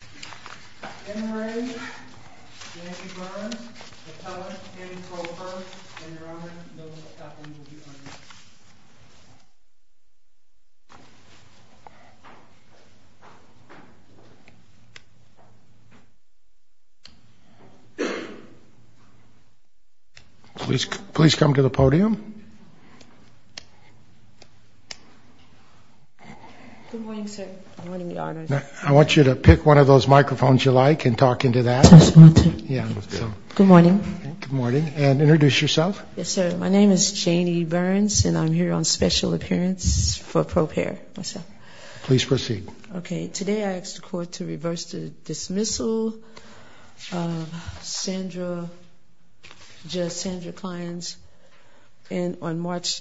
In the name of the Father, and of the Son, and of the Holy Spirit. Amen. Please come to the podium. Good morning, sir. Good morning, Your Honor. I want you to pick one of those microphones you like and talk into that. Good morning. Good morning. And introduce yourself. Yes, sir. My name is Janie Burns, and I'm here on special appearance for ProPARE. Please proceed. Okay. Today I ask the Court to reverse the dismissal of Sandra Clines on March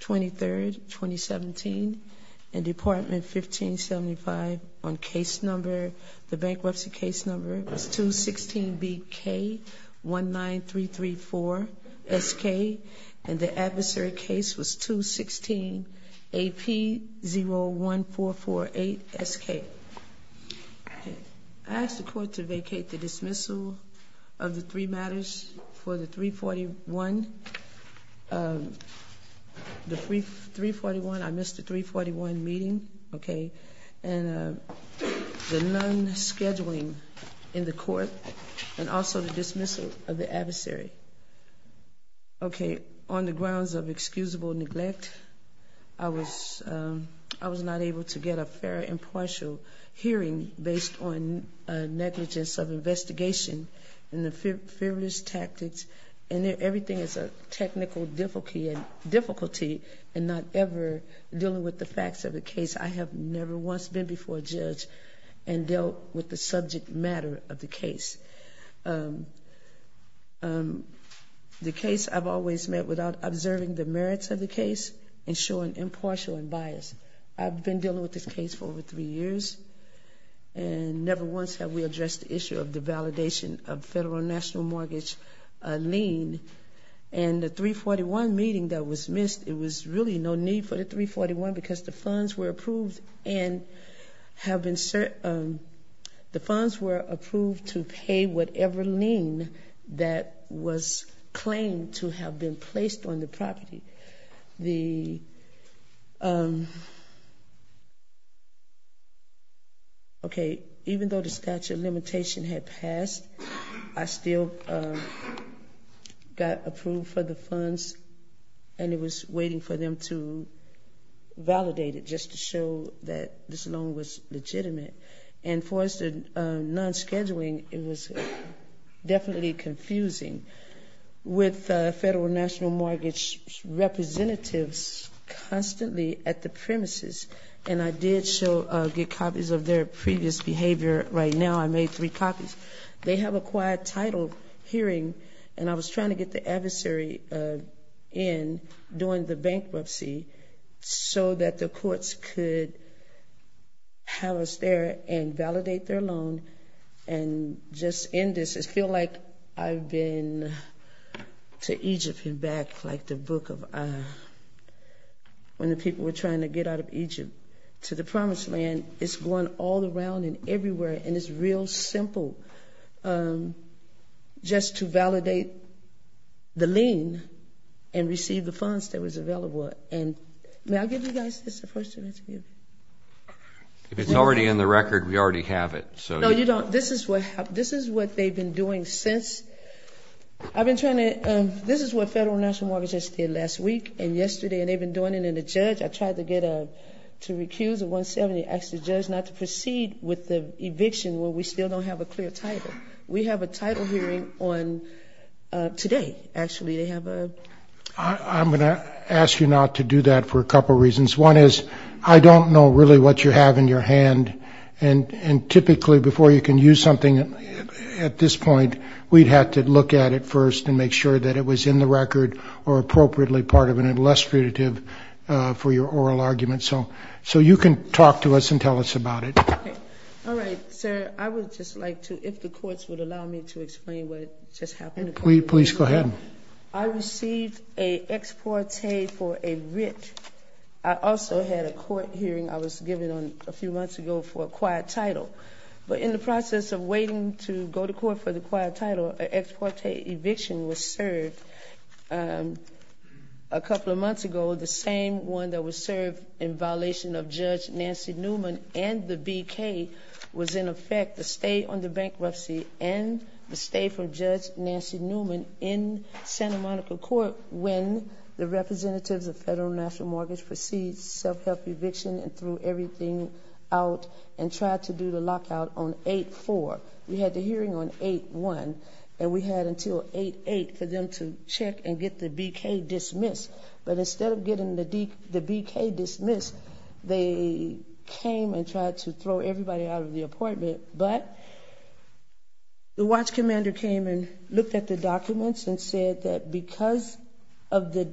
23, 2017, in Department 1575 on case number, the bankruptcy case number is 216BK19334SK. And the adversary case was 216AP01448SK. I ask the Court to vacate the dismissal of the three matters for the 341, the 341, I missed the 341 meeting. Okay. And the non-scheduling in the Court, and also the dismissal of the adversary. Okay. On the grounds of excusable neglect, I was not able to get a fair and partial hearing based on negligence of investigation and the fearless tactics. And everything is a technical difficulty in not ever dealing with the facts of the case. I have never once been before a judge and dealt with the subject matter of the case. The case I've always met without observing the merits of the case and showing impartial and bias. I've been dealing with this case for over three years, and never once have we addressed the issue of the validation of federal national mortgage lien. And the 341 meeting that was missed, it was really no need for the 341 because the funds were approved to pay whatever lien that was claimed to have been placed on the property. The, okay, even though the statute of limitation had passed, I still got approved for the funds, and it was waiting for them to validate it just to show that this loan was legitimate. And for us, the non-scheduling, it was definitely confusing. With federal national mortgage representatives constantly at the premises, and I did get copies of their previous behavior right now. I made three copies. They have a quiet title hearing, and I was trying to get the adversary in during the bankruptcy so that the courts could have us there and validate their loan and just end this. I feel like I've been to Egypt and back, like the book of, when the people were trying to get out of Egypt to the promised land. It's going all around and everywhere, and it's real simple just to validate the lien and receive the funds that was available. And may I give you guys this first interview? If it's already in the record, we already have it. No, you don't. This is what they've been doing since. I've been trying to, this is what federal national mortgages did last week and yesterday, and they've been doing it. And the judge, I tried to get, to recuse the 170, asked the judge not to proceed with the eviction where we still don't have a clear title. We have a title hearing on today, actually. I'm going to ask you not to do that for a couple reasons. One is I don't know really what you have in your hand, and typically before you can use something at this point, we'd have to look at it first and make sure that it was in the record or appropriately part of an illustrative for your oral argument. So you can talk to us and tell us about it. All right, sir. I would just like to, if the courts would allow me to explain what just happened. Please go ahead. I received a ex parte for a writ. I also had a court hearing I was given a few months ago for a quiet title. But in the process of waiting to go to court for the quiet title, an ex parte eviction was served a couple of months ago. The same one that was served in violation of Judge Nancy Newman and the BK was in effect. The stay on the bankruptcy and the stay from Judge Nancy Newman in Santa Monica Court when the representatives of Federal National Mortgage proceeded self-help eviction and threw everything out and tried to do the lockout on 8-4. We had the hearing on 8-1, and we had until 8-8 for them to check and get the BK dismissed. But instead of getting the BK dismissed, they came and tried to throw everybody out of the appointment. But the watch commander came and looked at the documents and said that because of the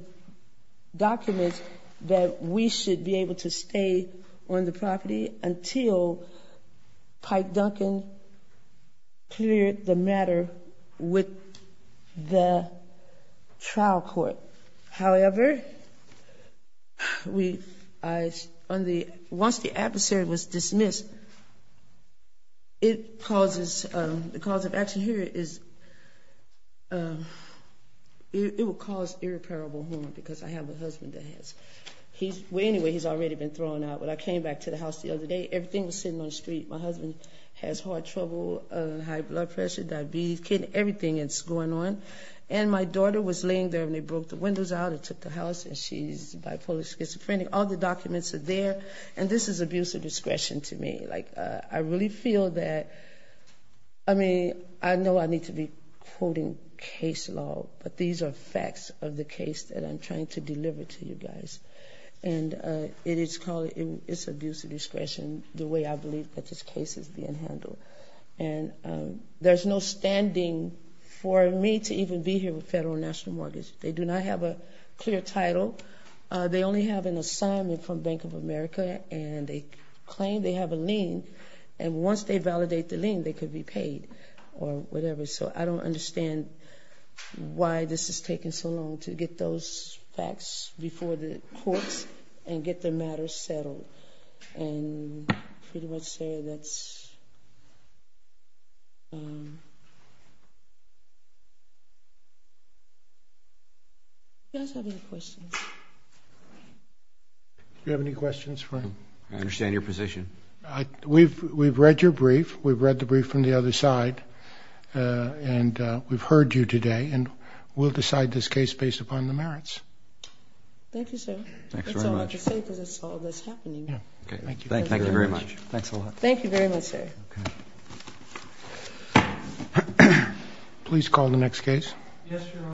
documents, that we should be able to stay on the property until Pike Duncan cleared the matter with the trial court. However, once the adversary was dismissed, the cause of action here is it will cause irreparable harm because I have a husband that has. Anyway, he's already been thrown out. When I came back to the house the other day, everything was sitting on the street. My husband has heart trouble, high blood pressure, diabetes, kidney, everything that's going on. And my daughter was laying there, and they broke the windows out and took the house, and she's bipolar, schizophrenic. All the documents are there, and this is abuse of discretion to me. Like, I really feel that, I mean, I know I need to be quoting case law, but these are facts of the case that I'm trying to deliver to you guys. And it's abuse of discretion the way I believe that this case is being handled. And there's no standing for me to even be here with Federal National Mortgage. They do not have a clear title. They only have an assignment from Bank of America, and they claim they have a lien. And once they validate the lien, they could be paid or whatever. So I don't understand why this is taking so long to get those facts before the courts and get the matter settled. And I pretty much say that's... Do you guys have any questions? Do you have any questions, Frank? I understand your position. We've read your brief. We've read the brief from the other side, and we've heard you today, and we'll decide this case based upon the merits. Thank you, sir. That's all I have to say because I saw this happening. Thank you very much. Thanks a lot. Thank you very much, sir. Please call the next case.